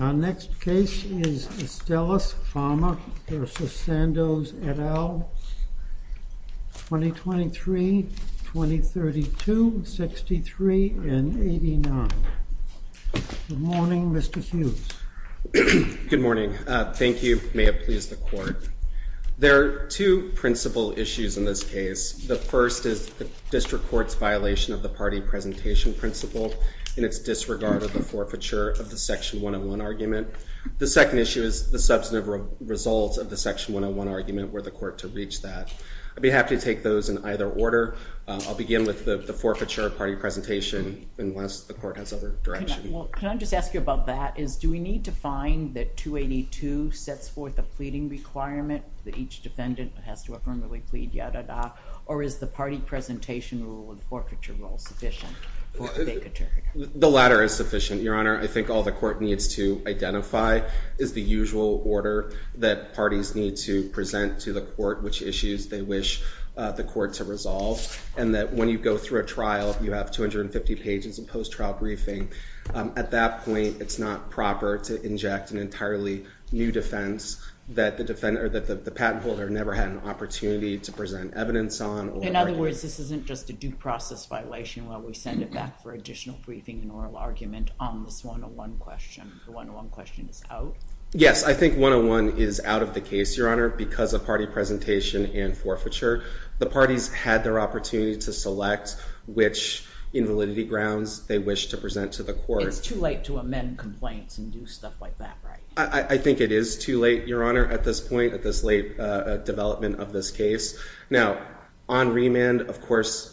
Our next case is Estellas Pharma v. Sandoz, et al., 2023, 2032, 63, and 89. Good morning, Mr. Hughes. Good morning. Thank you. May it please the Court. There are two principal issues in this case. The first is the District Court's violation of the party presentation principle in its disregard of the forfeiture of the Section 101 argument. The second issue is the substantive results of the Section 101 argument. Were the Court to reach that? I'd be happy to take those in either order. I'll begin with the forfeiture of party presentation unless the Court has other direction. Can I just ask you about that? Do we need to find that 282 sets forth a pleading requirement that each defendant has to affirmably plead, or is the party presentation rule and forfeiture rule sufficient for a big attorney? The latter is sufficient, Your Honor. I think all the Court needs to identify is the usual order that parties need to present to the Court, which issues they wish the Court to resolve, and that when you go through a trial, you have 250 pages of post-trial briefing. At that point, it's not proper to inject an entirely new defense that the patent holder never had an opportunity to present evidence on. In other words, this isn't just a due process violation where we send it back for additional briefing and oral argument on this 101 question. The 101 question is out? Yes, I think 101 is out of the case, Your Honor, because of party presentation and forfeiture. The parties had their opportunity to select which invalidity grounds they wished to present to the Court. It's too late to amend complaints and do stuff like that, right? I think it is too late, Your Honor, at this point. I think this late development of this case. Now, on remand, of course,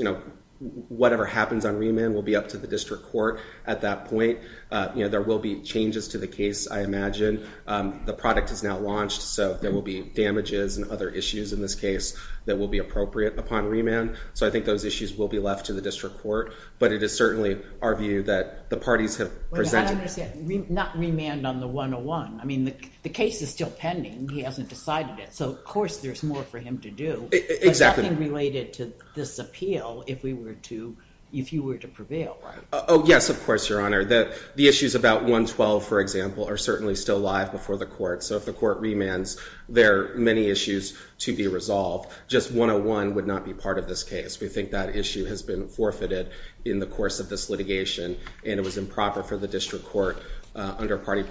whatever happens on remand will be up to the district court at that point. There will be changes to the case, I imagine. The product is now launched, so there will be damages and other issues in this case that will be appropriate upon remand. So I think those issues will be left to the district court, but it is certainly our view that the parties have presented. Not remand on the 101. The case is still pending. He hasn't decided it. So, of course, there's more for him to do. There's nothing related to this appeal if you were to prevail. Oh, yes, of course, Your Honor. The issues about 112, for example, are certainly still alive before the court. So if the court remands, there are many issues to be resolved. Just 101 would not be part of this case. We think that issue has been forfeited in the course of this litigation, and it was improper for the district court under party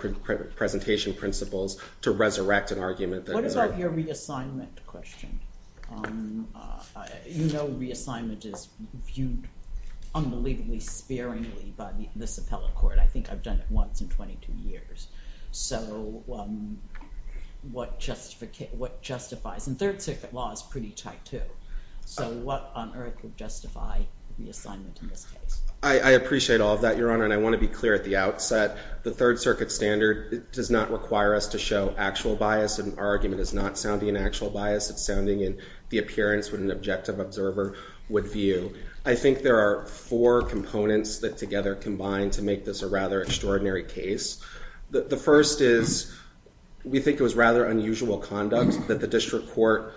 presentation principles to resurrect an argument. What about your reassignment question? You know reassignment is viewed unbelievably sparingly by this appellate court. I think I've done it once in 22 years. So what justifies? And Third Circuit law is pretty tight, too. So what on earth would justify reassignment in this case? I appreciate all of that, Your Honor, and I want to be clear at the outset. The Third Circuit standard does not require us to show actual bias, and our argument is not sounding in actual bias. It's sounding in the appearance what an objective observer would view. I think there are four components that together combine to make this a rather extraordinary case. The first is we think it was rather unusual conduct that the district court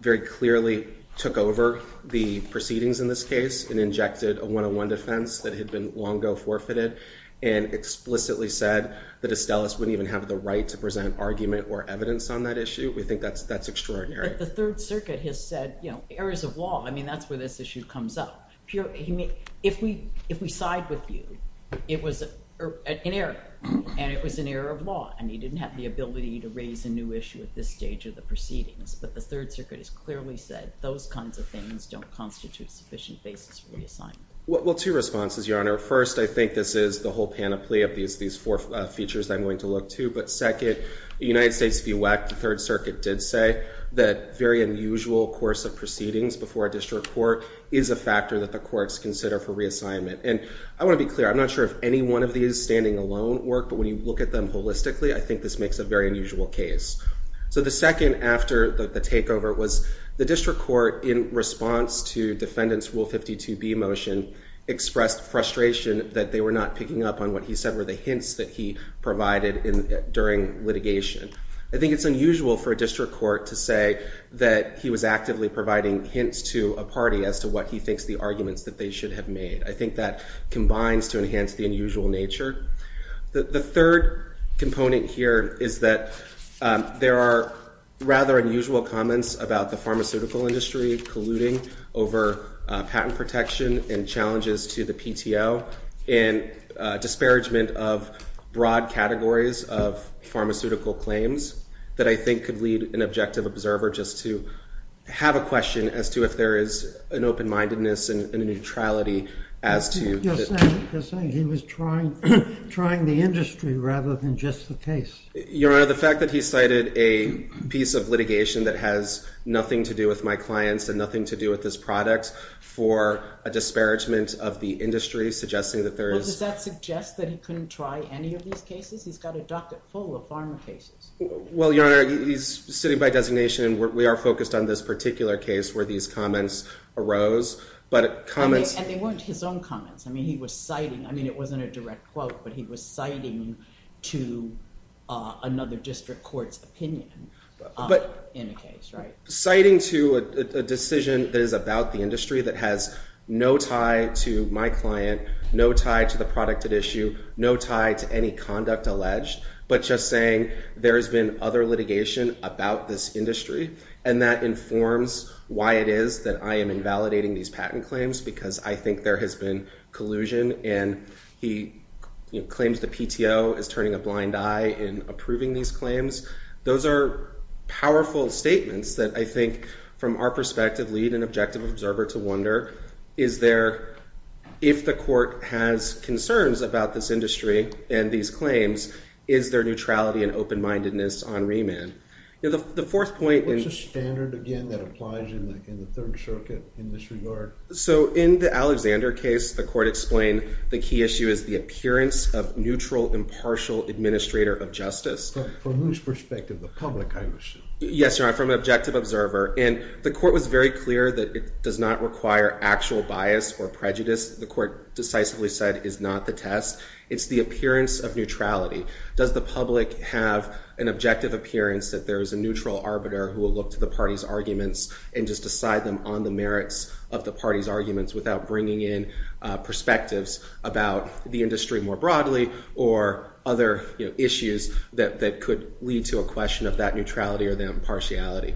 very clearly took over the proceedings in this case and injected a 101 defense that had been long ago forfeited, and explicitly said that Estellas wouldn't even have the right to present argument or evidence on that issue. We think that's extraordinary. But the Third Circuit has said, you know, errors of law. I mean that's where this issue comes up. If we side with you, it was an error, and it was an error of law, and he didn't have the ability to raise a new issue at this stage of the proceedings. But the Third Circuit has clearly said those kinds of things don't constitute sufficient basis for reassignment. Well, two responses, Your Honor. First, I think this is the whole panoply of these four features I'm going to look to. But second, the United States VWAC, the Third Circuit did say that very unusual course of proceedings before a district court is a factor that the courts consider for reassignment. And I want to be clear, I'm not sure if any one of these standing alone work, but when you look at them holistically, I think this makes a very unusual case. So the second after the takeover was the district court, in response to defendant's Rule 52b motion, expressed frustration that they were not picking up on what he said were the hints that he provided during litigation. I think it's unusual for a district court to say that he was actively providing hints to a party as to what he thinks the arguments that they should have made. I think that combines to enhance the unusual nature. The third component here is that there are rather unusual comments about the pharmaceutical industry colluding over patent protection and challenges to the PTO, and disparagement of broad categories of pharmaceutical claims that I think could lead an objective observer just to have a question as to if there is an open-mindedness and a neutrality as to... You're saying he was trying the industry rather than just the case. Your Honor, the fact that he cited a piece of litigation that has nothing to do with my clients and nothing to do with this product for a disparagement of the industry, suggesting that there is... Well, does that suggest that he couldn't try any of these cases? He's got a docket full of pharma cases. Well, Your Honor, he's sitting by designation. We are focused on this particular case where these comments arose, but comments... And they weren't his own comments. I mean, he was citing... I mean, it wasn't a direct quote, but he was citing to another district court's opinion in a case, right? Citing to a decision that is about the industry that has no tie to my client, no tie to the product at issue, no tie to any conduct alleged, but just saying there has been other litigation about this industry, and that informs why it is that I am invalidating these patent claims because I think there has been collusion, and he claims the PTO is turning a blind eye in approving these claims. Those are powerful statements that I think, from our perspective, lead an objective observer to wonder, is there, if the court has concerns about this industry and these claims, is there neutrality and open-mindedness on remand? The fourth point... What's the standard, again, that applies in the Third Circuit in this regard? So, in the Alexander case, the court explained the key issue is the appearance of neutral, impartial administrator of justice. From whose perspective? The public, I assume. Yes, Your Honor, from an objective observer. And the court was very clear that it does not require actual bias or prejudice. The court decisively said it is not the test. It's the appearance of neutrality. Does the public have an objective appearance that there is a neutral arbiter who will look to the party's arguments and just decide them on the merits of the party's arguments without bringing in perspectives about the industry more broadly or other issues that could lead to a question of that neutrality or that impartiality?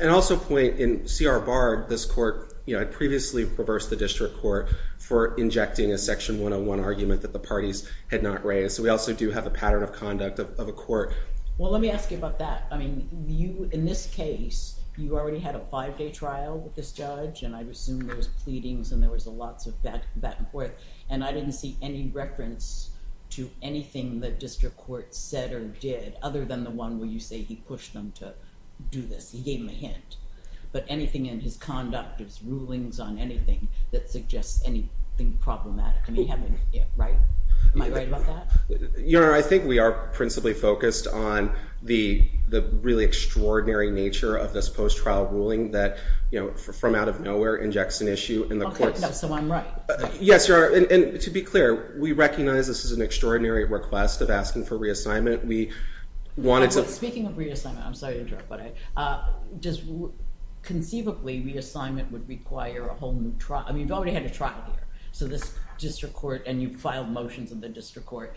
And I'll also point, in C.R. Bard, this court... I previously reversed the district court for injecting a Section 101 argument that the parties had not raised. So, we also do have a pattern of conduct of a court... Well, let me ask you about that. I mean, in this case, you already had a five-day trial with this judge, and I assume there was pleadings and there was lots of back-and-forth, and I didn't see any reference to anything the district court said or did other than the one where you say he pushed them to do this. He gave them a hint. But anything in his conduct, his rulings on anything, that suggests anything problematic? I mean, having... Right? Am I right about that? Your Honor, I think we are principally focused on the really extraordinary nature of this post-trial ruling that, you know, from out of nowhere, injects an issue in the courts. Okay, so I'm right. Yes, Your Honor, and to be clear, we recognize this is an extraordinary request of asking for reassignment. We wanted to... Speaking of reassignment, I'm sorry to interrupt, but does... Conceivably, reassignment would require a whole new trial. I mean, you've already had a trial here. So this district court... And you've filed motions in the district court.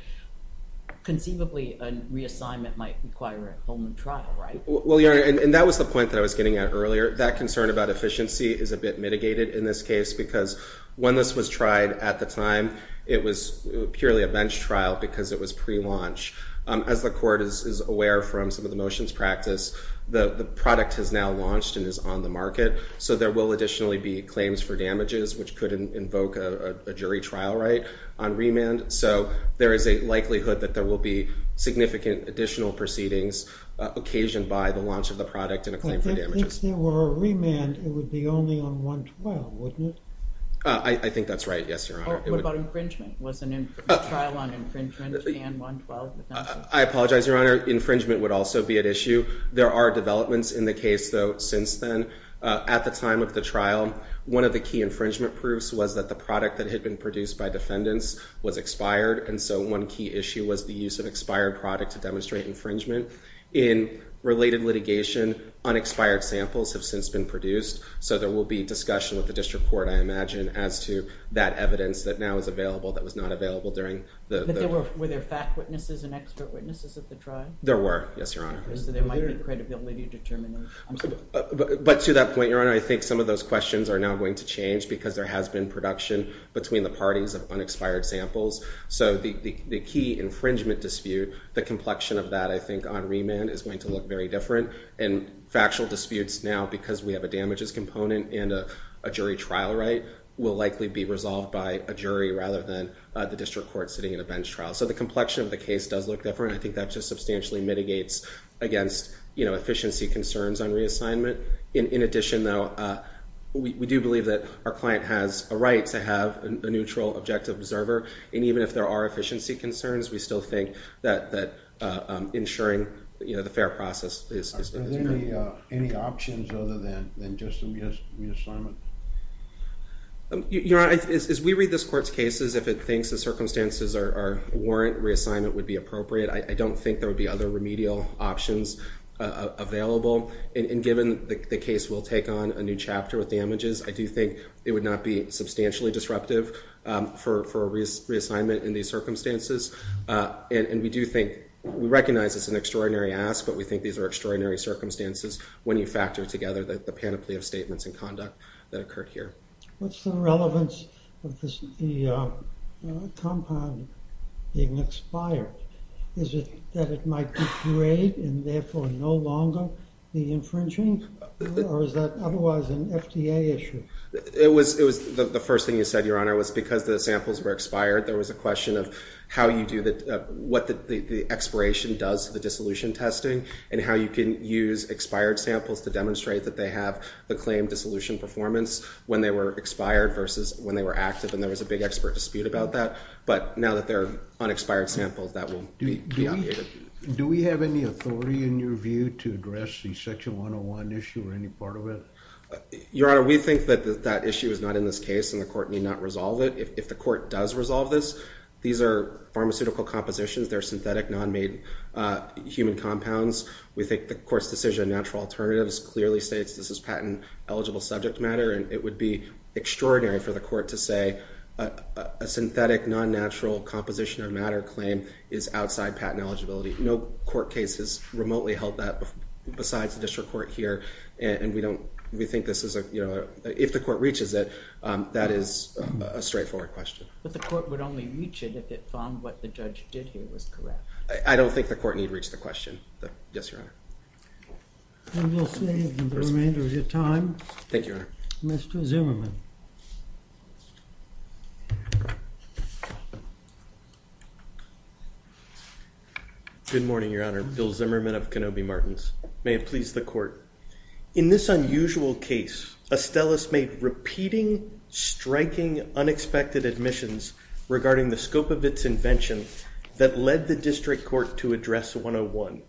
Conceivably, a reassignment might require a whole new trial, right? Well, Your Honor, and that was the point that I was getting at earlier. That concern about efficiency is a bit mitigated in this case because when this was tried at the time, it was purely a bench trial because it was pre-launch. As the court is aware from some of the motions practice, the product has now launched and is on the market, so there will additionally be claims for damages, which could invoke a jury trial right on remand. So there is a likelihood that there will be significant additional proceedings occasioned by the launch of the product and a claim for damages. If there were a remand, it would be only on 112, wouldn't it? I think that's right, yes, Your Honor. What about infringement? Was the trial on infringement and 112? I apologize, Your Honor. Infringement would also be at issue. There are developments in the case, though, since then. At the time of the trial, one of the key infringement proofs was that the product that had been produced by defendants was expired, and so one key issue was the use of expired product to demonstrate infringement. In related litigation, unexpired samples have since been produced, so there will be discussion with the district court, I imagine, as to that evidence that now is available that was not available during the trial. Were there fact witnesses and expert witnesses at the trial? There were, yes, Your Honor. So there might be credibility determinants. But to that point, Your Honor, I think some of those questions are now going to change because there has been production between the parties of unexpired samples. So the key infringement dispute, the complexion of that, I think, on remand is going to look very different. And factual disputes now, because we have a damages component and a jury trial right, will likely be resolved by a jury rather than the district court sitting in a bench trial. So the complexion of the case does look different. I think that just substantially mitigates against efficiency concerns on reassignment. In addition, though, we do believe that our client has a right to have a neutral objective observer, and even if there are efficiency concerns, we still think that ensuring the fair process is important. Are there any options other than just a reassignment? Your Honor, as we read this Court's cases, if it thinks the circumstances warrant reassignment would be appropriate, I don't think there would be other remedial options available. And given the case will take on a new chapter with damages, I do think it would not be substantially disruptive for reassignment in these circumstances. And we do think, we recognize it's an extraordinary ask, but we think these are extraordinary circumstances when you factor together the panoply of statements and conduct that occurred here. What's the relevance of the compound being expired? Is it that it might degrade and therefore no longer be infringing? Or is that otherwise an FDA issue? It was the first thing you said, Your Honor, was because the samples were expired, there was a question of how you do the, what the expiration does to the dissolution testing and how you can use expired samples to demonstrate that they have the claimed dissolution performance when they were expired versus when they were active. And there was a big expert dispute about that. But now that they're unexpired samples, that will be obviated. Do we have any authority in your view to address the Section 101 issue or any part of it? Your Honor, we think that that issue is not in this case and the Court need not resolve it. If the Court does resolve this, these are pharmaceutical compositions. They're synthetic, non-made human compounds. We think the Court's decision on natural alternatives clearly states this is patent-eligible subject matter and it would be extraordinary for the Court to say a synthetic, non-natural composition or matter claim is outside patent eligibility. No court case has remotely held that besides the District Court here. And we don't, we think this is a, you know, if the Court reaches it, that is a straightforward question. But the Court would only reach it if it found what the judge did here was correct. I don't think the Court need reach the question. Yes, Your Honor. And we'll save the remainder of your time. Thank you, Your Honor. Mr. Zimmerman. Good morning, Your Honor. Bill Zimmerman of Kenobi Martins. May it please the Court. In this unusual case, Astellas made repeating, striking, unexpected admissions regarding the scope of its invention that led the District Court to address 101.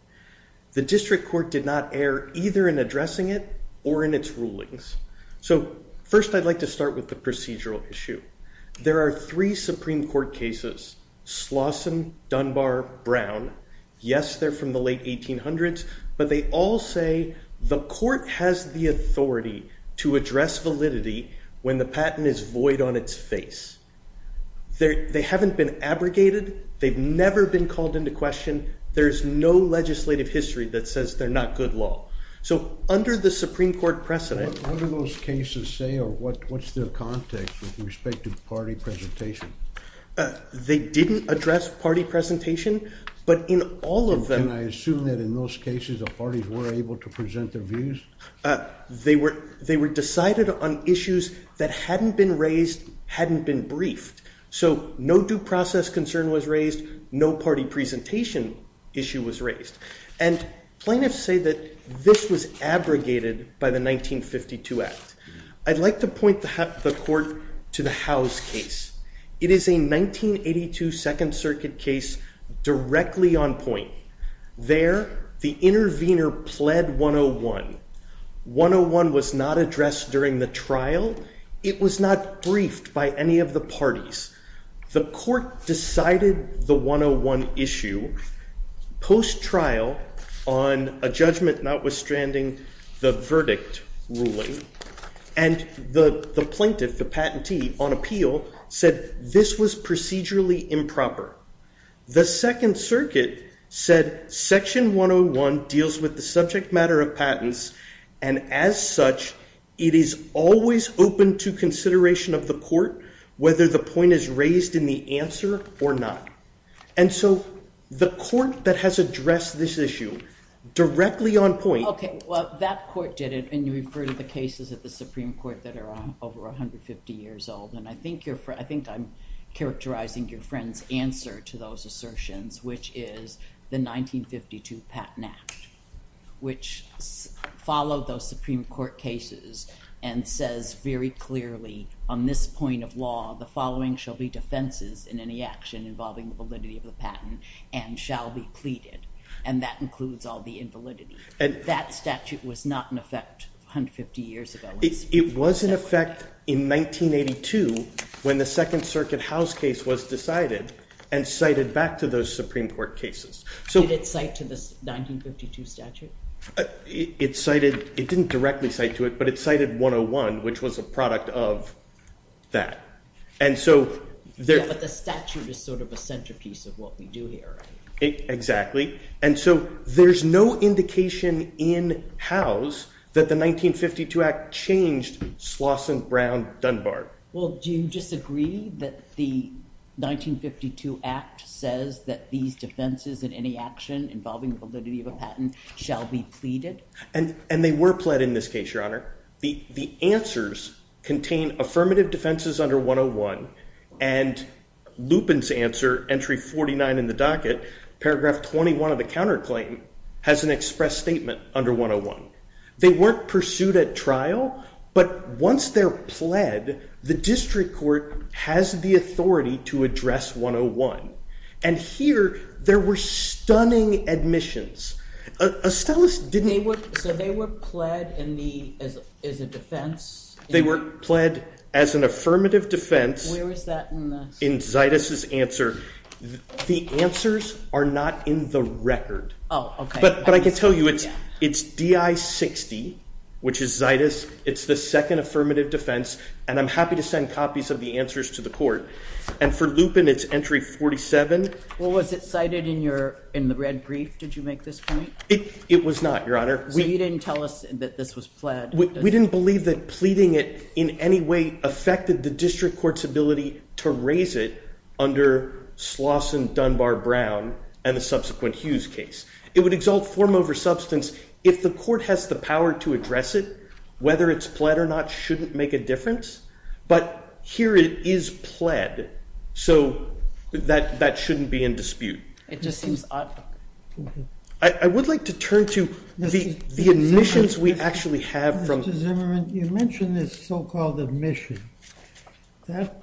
The District Court did not err either in addressing it or in its rulings. So, first I'd like to start with the procedural issue. There are three Supreme Court cases, Slauson, Dunbar, Brown. Yes, they're from the late 1800s, but they all say the Court has the authority to address validity when the patent is void on its face. They haven't been abrogated. They've never been called into question. There's no legislative history that says they're not good law. So, under the Supreme Court precedent... What do those cases say or what's their context with respect to party presentation? They didn't address party presentation, but in all of them... Can I assume that in those cases, the parties were able to present their views? They were decided on issues that hadn't been raised, hadn't been briefed. So, no due process concern was raised, no party presentation issue was raised. And plaintiffs say that this was abrogated by the 1952 Act. I'd like to point the Court to the Howes case. It is a 1982 Second Circuit case directly on point. There, the intervener pled 101. 101 was not addressed during the trial. It was not briefed by any of the parties. The Court decided the 101 issue post-trial on a judgment notwithstanding the verdict ruling. And the plaintiff, the patentee, on appeal, said this was procedurally improper. The Second Circuit said Section 101 deals with the subject matter of patents, and as such, it is always open to consideration of the Court whether the point is raised in the answer or not. And so, the Court that has addressed this issue directly on point... Okay, well, that Court did it, and you refer to the cases at the Supreme Court that are over 150 years old. And I think I'm characterizing your friend's answer to those assertions, which is the 1952 Patent Act, which followed those Supreme Court cases and says very clearly, on this point of law, the following shall be defenses in any action involving the validity of the patent and shall be pleaded. And that includes all the invalidity. That statute was not in effect 150 years ago. It was in effect in 1982 when the Second Circuit House case was decided and cited back to those Supreme Court cases. Did it cite to the 1952 statute? It cited... It didn't directly cite to it, but it cited 101, which was a product of that. And so... Yeah, but the statute is sort of a centrepiece of what we do here. Exactly. And so, there's no indication in House that the 1952 Act changed Slauson, Brown, Dunbar. Well, do you disagree that the 1952 Act says that these defenses in any action involving validity of a patent shall be pleaded? And they were pled in this case, Your Honour. The answers contain affirmative defenses under 101 and Lupin's answer, entry 49 in the docket, paragraph 21 of the counterclaim, has an express statement under 101. They weren't pursued at trial, but once they're pled, the district court has the authority to address 101. And here, there were stunning admissions. Estellis didn't... So they were pled as a defense? They were pled as an affirmative defense. Where was that in this? In Zaitis' answer. The answers are not in the record. Oh, OK. But I can tell you, it's DI 60, which is Zaitis. It's the second affirmative defense, and I'm happy to send copies of the answers to the court. And for Lupin, it's entry 47. Well, was it cited in the red brief? Did you make this point? It was not, Your Honour. So you didn't tell us that this was pled? We didn't believe that pleading it in any way affected the district court's ability to raise it under Sloss and Dunbar-Brown and the subsequent Hughes case. It would exalt form over substance. If the court has the power to address it, whether it's pled or not shouldn't make a difference. But here it is pled. So that shouldn't be in dispute. It just seems odd. I would like to turn to the admissions we actually have from... Mr. Zimmerman, you mentioned this so-called admission. That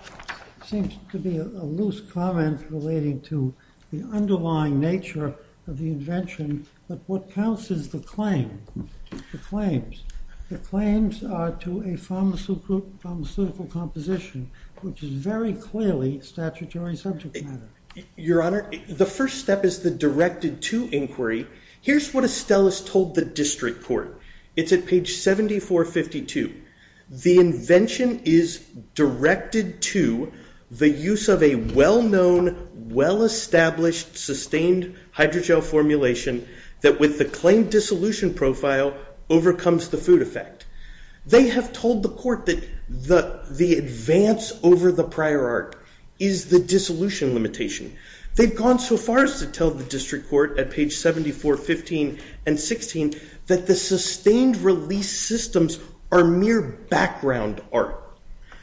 seems to be a loose comment relating to the underlying nature of the invention, but what counts is the claim, the claims. The claims are to a pharmaceutical composition, which is very clearly statutory subject matter. Your Honour, the first step is the directed to inquiry. Here's what Estellas told the district court. It's at page 7452. The invention is directed to the use of a well-known, well-established, sustained hydrogel formulation that with the claim dissolution profile overcomes the food effect. They have told the court that the advance over the prior art is the dissolution limitation. They've gone so far as to tell the district court at page 7415 and 16 that the sustained release systems are mere background art.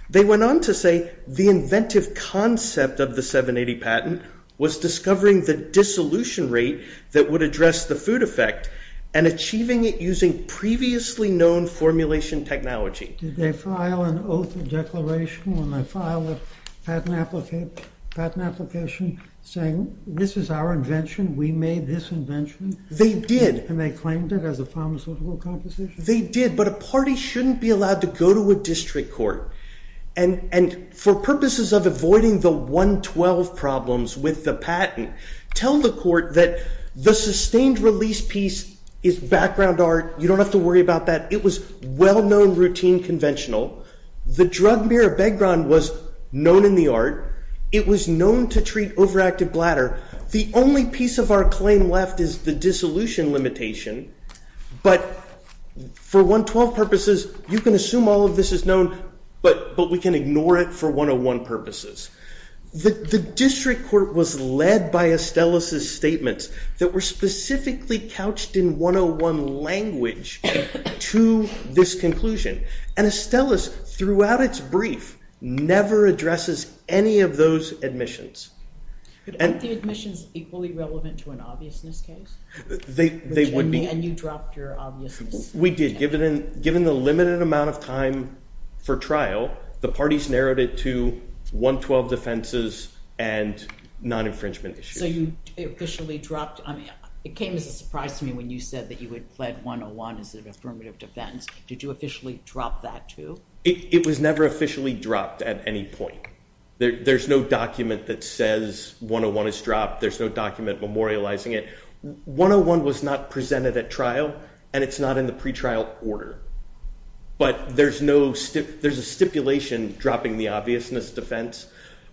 They went on to say the inventive concept of the 780 patent was discovering the dissolution rate that would address the food effect and achieving it using previously known formulation technology. Did they file an oath of declaration when they filed a patent application saying, this is our invention, we made this invention? They did. And they claimed it as a pharmaceutical composition? They did, but a party shouldn't be allowed to go to a district court. And for purposes of avoiding the 112 problems with the patent, tell the court that the sustained release piece is background art. You don't have to worry about that. It was well-known, routine, conventional. The drug mirror background was known in the art. It was known to treat overactive bladder. The only piece of our claim left is the dissolution limitation. But for 112 purposes, you can assume all of this is known, but we can ignore it for 101 purposes. The district court was led by Estellas' statements that were specifically couched in 101 language to this conclusion. And Estellas, throughout its brief, never addresses any of those admissions. Aren't the admissions equally relevant to an obviousness case? They would be. And you dropped your obviousness. We did. Given the limited amount of time for trial, the parties narrowed it to 112 defenses and non-infringement issues. So you officially dropped? It came as a surprise to me when you said that you had pled 101 as an affirmative defense. Did you officially drop that, too? It was never officially dropped at any point. There's no document that says 101 is dropped. There's no document memorializing it. 101 was not presented at trial, and it's not in the pretrial order. But there's a stipulation dropping the obviousness defense.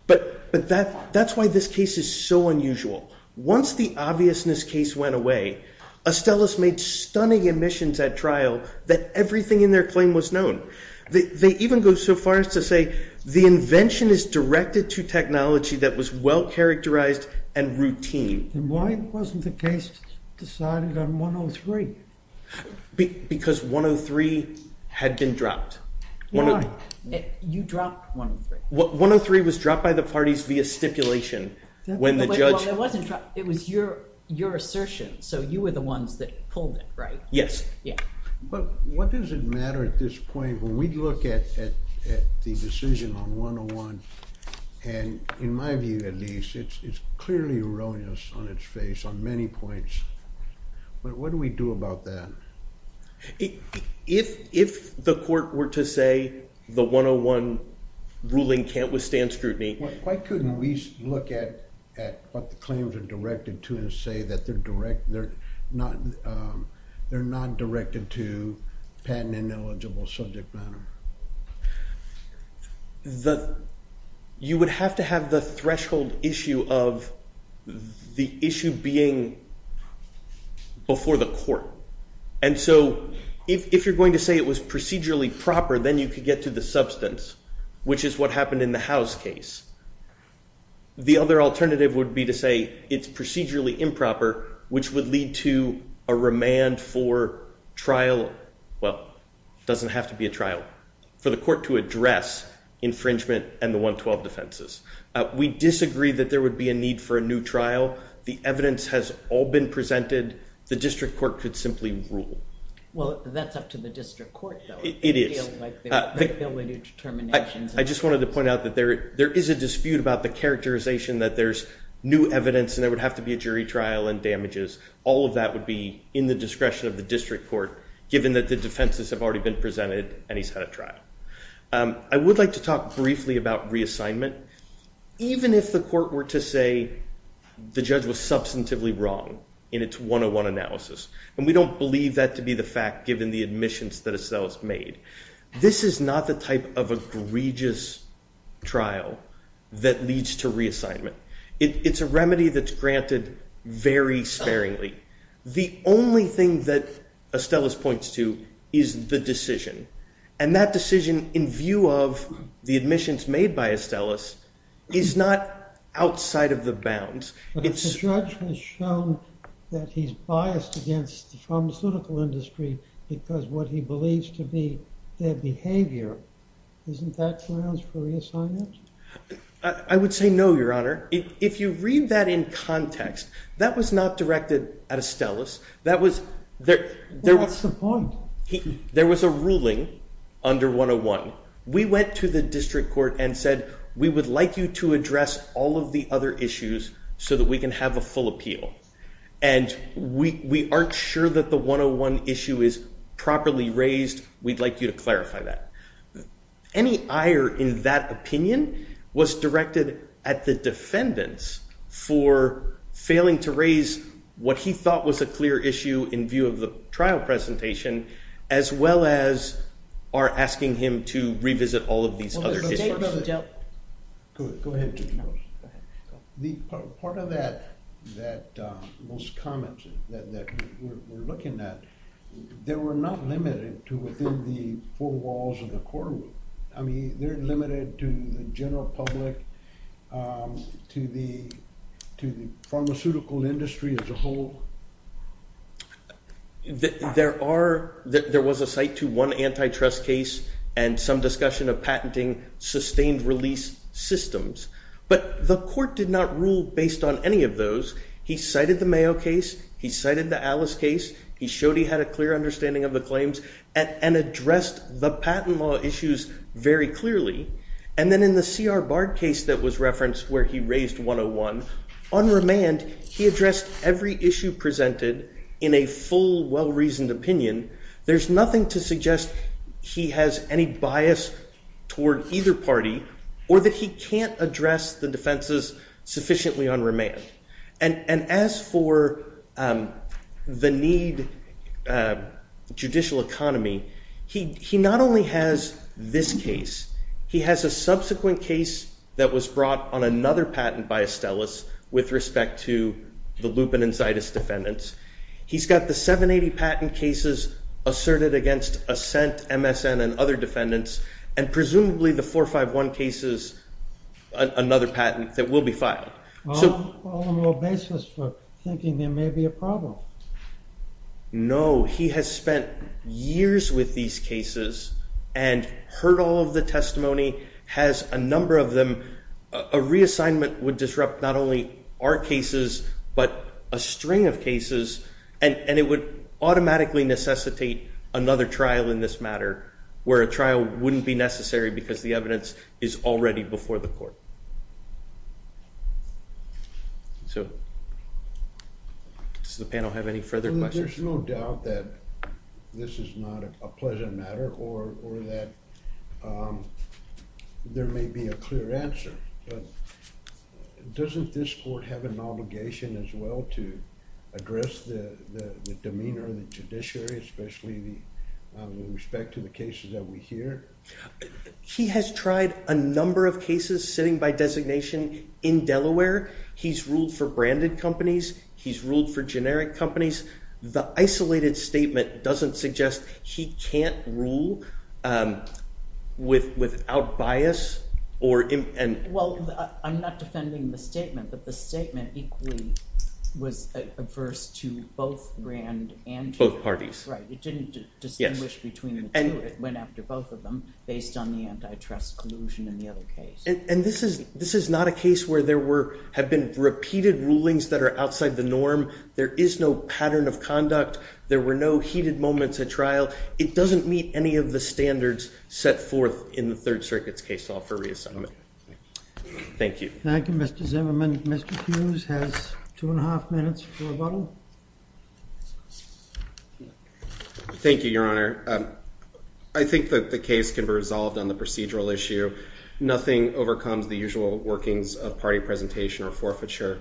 But that's why this case is so unusual. Once the obviousness case went away, Estellas made stunning admissions at trial that everything in their claim was known. They even go so far as to say, the invention is directed to technology that was well-characterized and routine. And why wasn't the case decided on 103? Because 103 had been dropped. Why? You dropped 103. 103 was dropped by the parties via stipulation when the judge- It wasn't dropped. It was your assertion. So you were the ones that pulled it, right? Yes. Yeah. But what does it matter at this point? When we look at the decision on 101, and in my view at least, it's clearly erroneous on its face on many points. But what do we do about that? If the court were to say the 101 ruling can't withstand scrutiny- Why couldn't we look at what the claims are directed to and say that they're not directed to patent ineligible subject matter? You would have to have the threshold issue of the issue being before the court. And so if you're going to say it was procedurally proper, then you could get to the substance, which is what happened in the House case. The other alternative would be to say it's procedurally improper, which would lead to a remand for trial- well, it doesn't have to be a trial- for the court to address infringement and the 112 defenses. We disagree that there would be a need for a new trial. The evidence has all been presented. The district court could simply rule. Well, that's up to the district court, though. It is. They feel like they're going to do determinations. I just wanted to point out that there is a dispute about the characterization that there's new evidence and there would have to be a jury trial and damages. All of that would be in the discretion of the district court, given that the defenses have already been presented and he's had a trial. I would like to talk briefly about reassignment. Even if the court were to say the judge was substantively wrong in its 101 analysis, and we don't believe that to be the fact given the admissions that Astellas made, this is not the type of egregious trial that leads to reassignment. It's a remedy that's granted very sparingly. The only thing that Astellas points to is the decision. And that decision, in view of the admissions made by Astellas, is not outside of the bounds. But if the judge has shown that he's biased against the pharmaceutical industry because of what he believes to be their behavior, isn't that grounds for reassignment? I would say no, Your Honor. If you read that in context, that was not directed at Astellas. What's the point? There was a ruling under 101. We went to the district court and said, we would like you to address all of the other issues so that we can have a full appeal. And we aren't sure that the 101 issue is properly raised. We'd like you to clarify that. Any ire in that opinion was directed at the defendants for failing to raise what he thought was a clear issue in view of the trial presentation, as well as our asking him to revisit all of these other issues. Go ahead. The part of that, those comments that we're looking at, they were not limited to within the four walls of the courtroom. I mean, they're limited to the general public, to the pharmaceutical industry as a whole. There was a cite to one antitrust case and some discussion of patenting sustained release systems. But the court did not rule based on any of those. He cited the Mayo case. He cited the Alice case. He showed he had a clear understanding of the claims and addressed the patent law issues very clearly. And then in the C.R. Bard case that was referenced where he raised 101, on remand, he addressed every issue presented in a full, well-reasoned There's nothing to suggest he has any bias toward either party or that he can't address the defenses sufficiently on remand. And as for the need judicial economy, he not only has this case, he has a subsequent case that was brought on another patent by Estellas with respect to the lupin and Zytus defendants. He's got the 780 patent cases asserted against Assent, MSN, and other defendants, and presumably the 451 cases, another patent that will be filed. Well, I'm a little baseless for thinking there may be a problem. No, he has spent years with these cases and heard all of the testimony, has a number of them. A reassignment would disrupt not only our cases, but a string of cases. And it would automatically necessitate another trial in this matter, where a trial wouldn't be necessary because the evidence is already before the court. So does the panel have any further questions? There's no doubt that this is not a pleasant matter or that there may be a clear answer. But doesn't this court have an obligation as well to address the demeanor of the judiciary, especially with respect to the cases that we hear? He has tried a number of cases sitting by designation in Delaware. He's ruled for branded companies. He's ruled for generic companies. The isolated statement doesn't suggest he can't rule without bias. Well, I'm not defending the statement, but the statement equally was averse to both brand and generic. Both parties. Right, it didn't distinguish between the two. It went after both of them based on the antitrust collusion in the other case. And this is not a case where there have been repeated rulings that are outside the norm. There is no pattern of conduct. There were no heated moments at trial. It doesn't meet any of the standards set forth in the Third Circuit's case law for reassignment. Thank you. Thank you, Mr. Zimmerman. Mr. Hughes has two and a half minutes for rebuttal. Thank you, Your Honor. I think that the case can be resolved on the procedural issue. Nothing overcomes the usual workings of party presentation or forfeiture.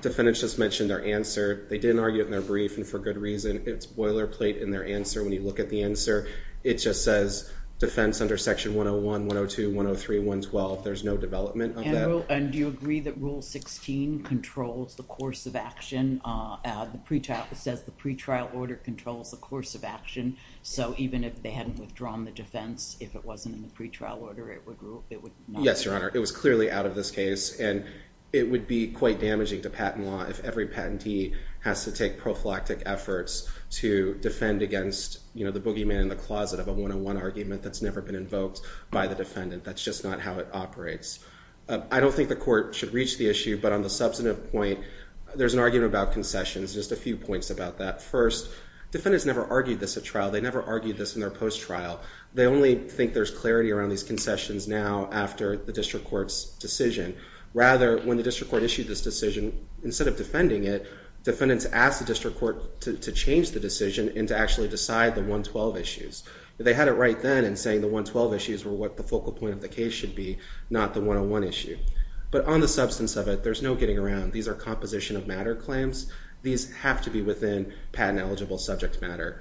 Defendants just mentioned their answer. They didn't argue it in their brief, and for good reason. It's boilerplate in their answer when you look at the answer. It just says defense under Section 101, 102, 103, 112. There's no development of that. And do you agree that Rule 16 controls the course of action? It says the pretrial order controls the course of action. So even if they hadn't withdrawn the defense, if it wasn't in the pretrial order, it would not? Yes, Your Honor. It was clearly out of this case, and it would be quite damaging to patent law if every patentee has to take prophylactic efforts to defend against the boogeyman in the closet of a 101 argument that's never been invoked by the defendant. That's just not how it operates. I don't think the court should reach the issue, but on the substantive point, there's an argument about concessions. Just a few points about that. First, defendants never argued this at trial. They never argued this in their post-trial. They only think there's clarity around these concessions now after the district court's decision. Rather, when the district court issued this decision, instead of defending it, defendants asked the district court to change the decision and to actually decide the 112 issues. They had it right then in saying the 112 issues were what the focal point of the case should be, not the 101 issue. But on the substance of it, there's no getting around. These are composition of matter claims. These have to be within patent-eligible subject matter.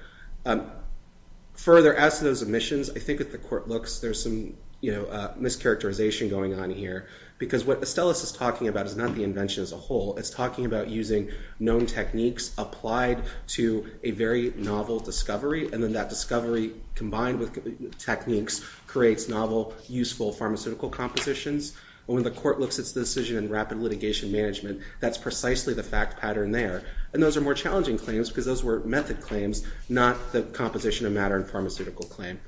Further, as to those omissions, I think at the court looks, there's some mischaracterization going on here. Because what Estellas is talking about is not the invention as a whole. It's talking about using known techniques applied to a very novel discovery. And then that discovery, combined with techniques, creates novel, useful pharmaceutical compositions. And when the court looks at the decision in rapid litigation management, that's precisely the fact pattern there. And those are more challenging claims, because those were method claims, not the composition of matter and pharmaceutical claim.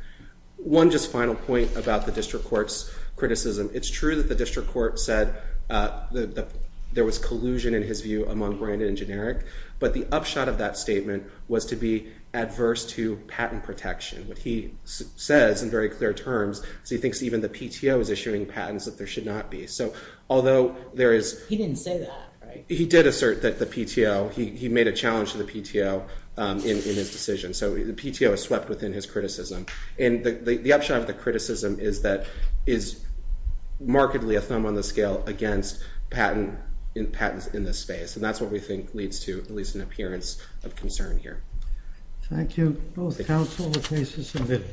One just final point about the district court's criticism. It's true that the district court said that there was collusion, in his view, among branded and generic. But the upshot of that statement was to be adverse to patent protection. What he says in very clear terms is he thinks even the PTO is issuing patents that there should not be. So although there is- He didn't say that, right? He did assert that the PTO, he made a challenge to the PTO. in his decision. So the PTO is swept within his criticism. And the upshot of the criticism is that it's markedly a thumb on the scale against patents in this space. And that's what we think leads to at least an appearance of concern here. Thank you. Both counsel, the case is submitted.